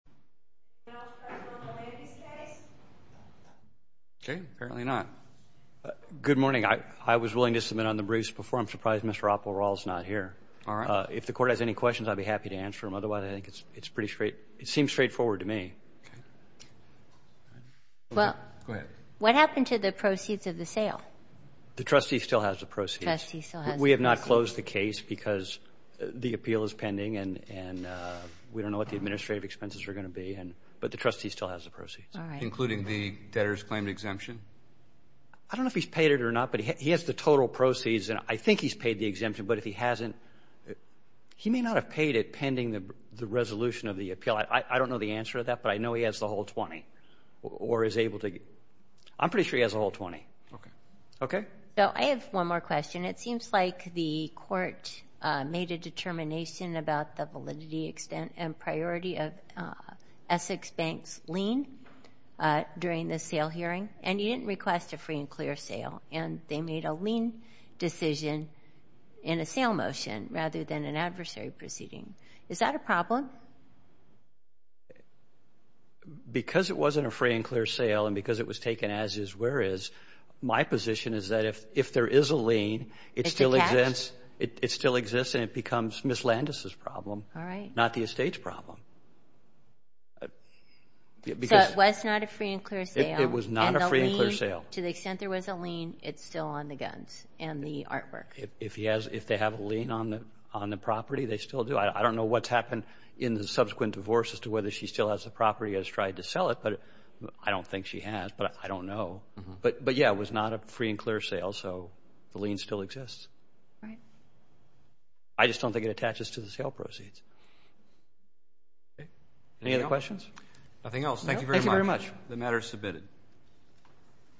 Good morning. I was willing to submit on the briefs before. I'm surprised Mr. Oppelrall is not here. If the court has any questions, I'd be happy to answer them. Otherwise, I think it's pretty straight. It seems straightforward to me. What happened to the proceeds of the sale? The trustee still has the proceeds. The trustee still has the proceeds. We have not closed the case because the appeal is pending and we don't know what the administrative expenses are going to be, but the trustee still has the proceeds. All right. Including the debtor's claim exemption? I don't know if he's paid it or not, but he has the total proceeds and I think he's paid the exemption, but if he hasn't, he may not have paid it pending the resolution of the appeal. I don't know the answer to that, but I know he has the whole 20. I'm pretty sure he has the whole 20. Okay. I have one more question. It seems like the court made a determination about the validity, extent, and priority of Essex Bank's lien during the sale hearing and you didn't request a free and clear sale. They made a lien decision in a sale motion rather than an adversary proceeding. Is that a problem? Because it wasn't a free and clear sale and because it was taken as is, whereas my position is that if there is a lien, it still exists and it becomes Ms. Landis' problem, not the estate's problem. So it was not a free and clear sale? It was not a free and clear sale. And the lien, to the extent there was a lien, it's still on the guns and the artwork? If they have a lien on the property, they still do. I don't know what's happened in the subsequent divorce as to whether she still has the property or has tried to sell it, but I don't think she has, but I don't know. But, yeah, it was not a free and clear sale, so the lien still exists. Right. I just don't think it attaches to the sale proceeds. Any other questions? Nothing else. Thank you very much. The matter is submitted.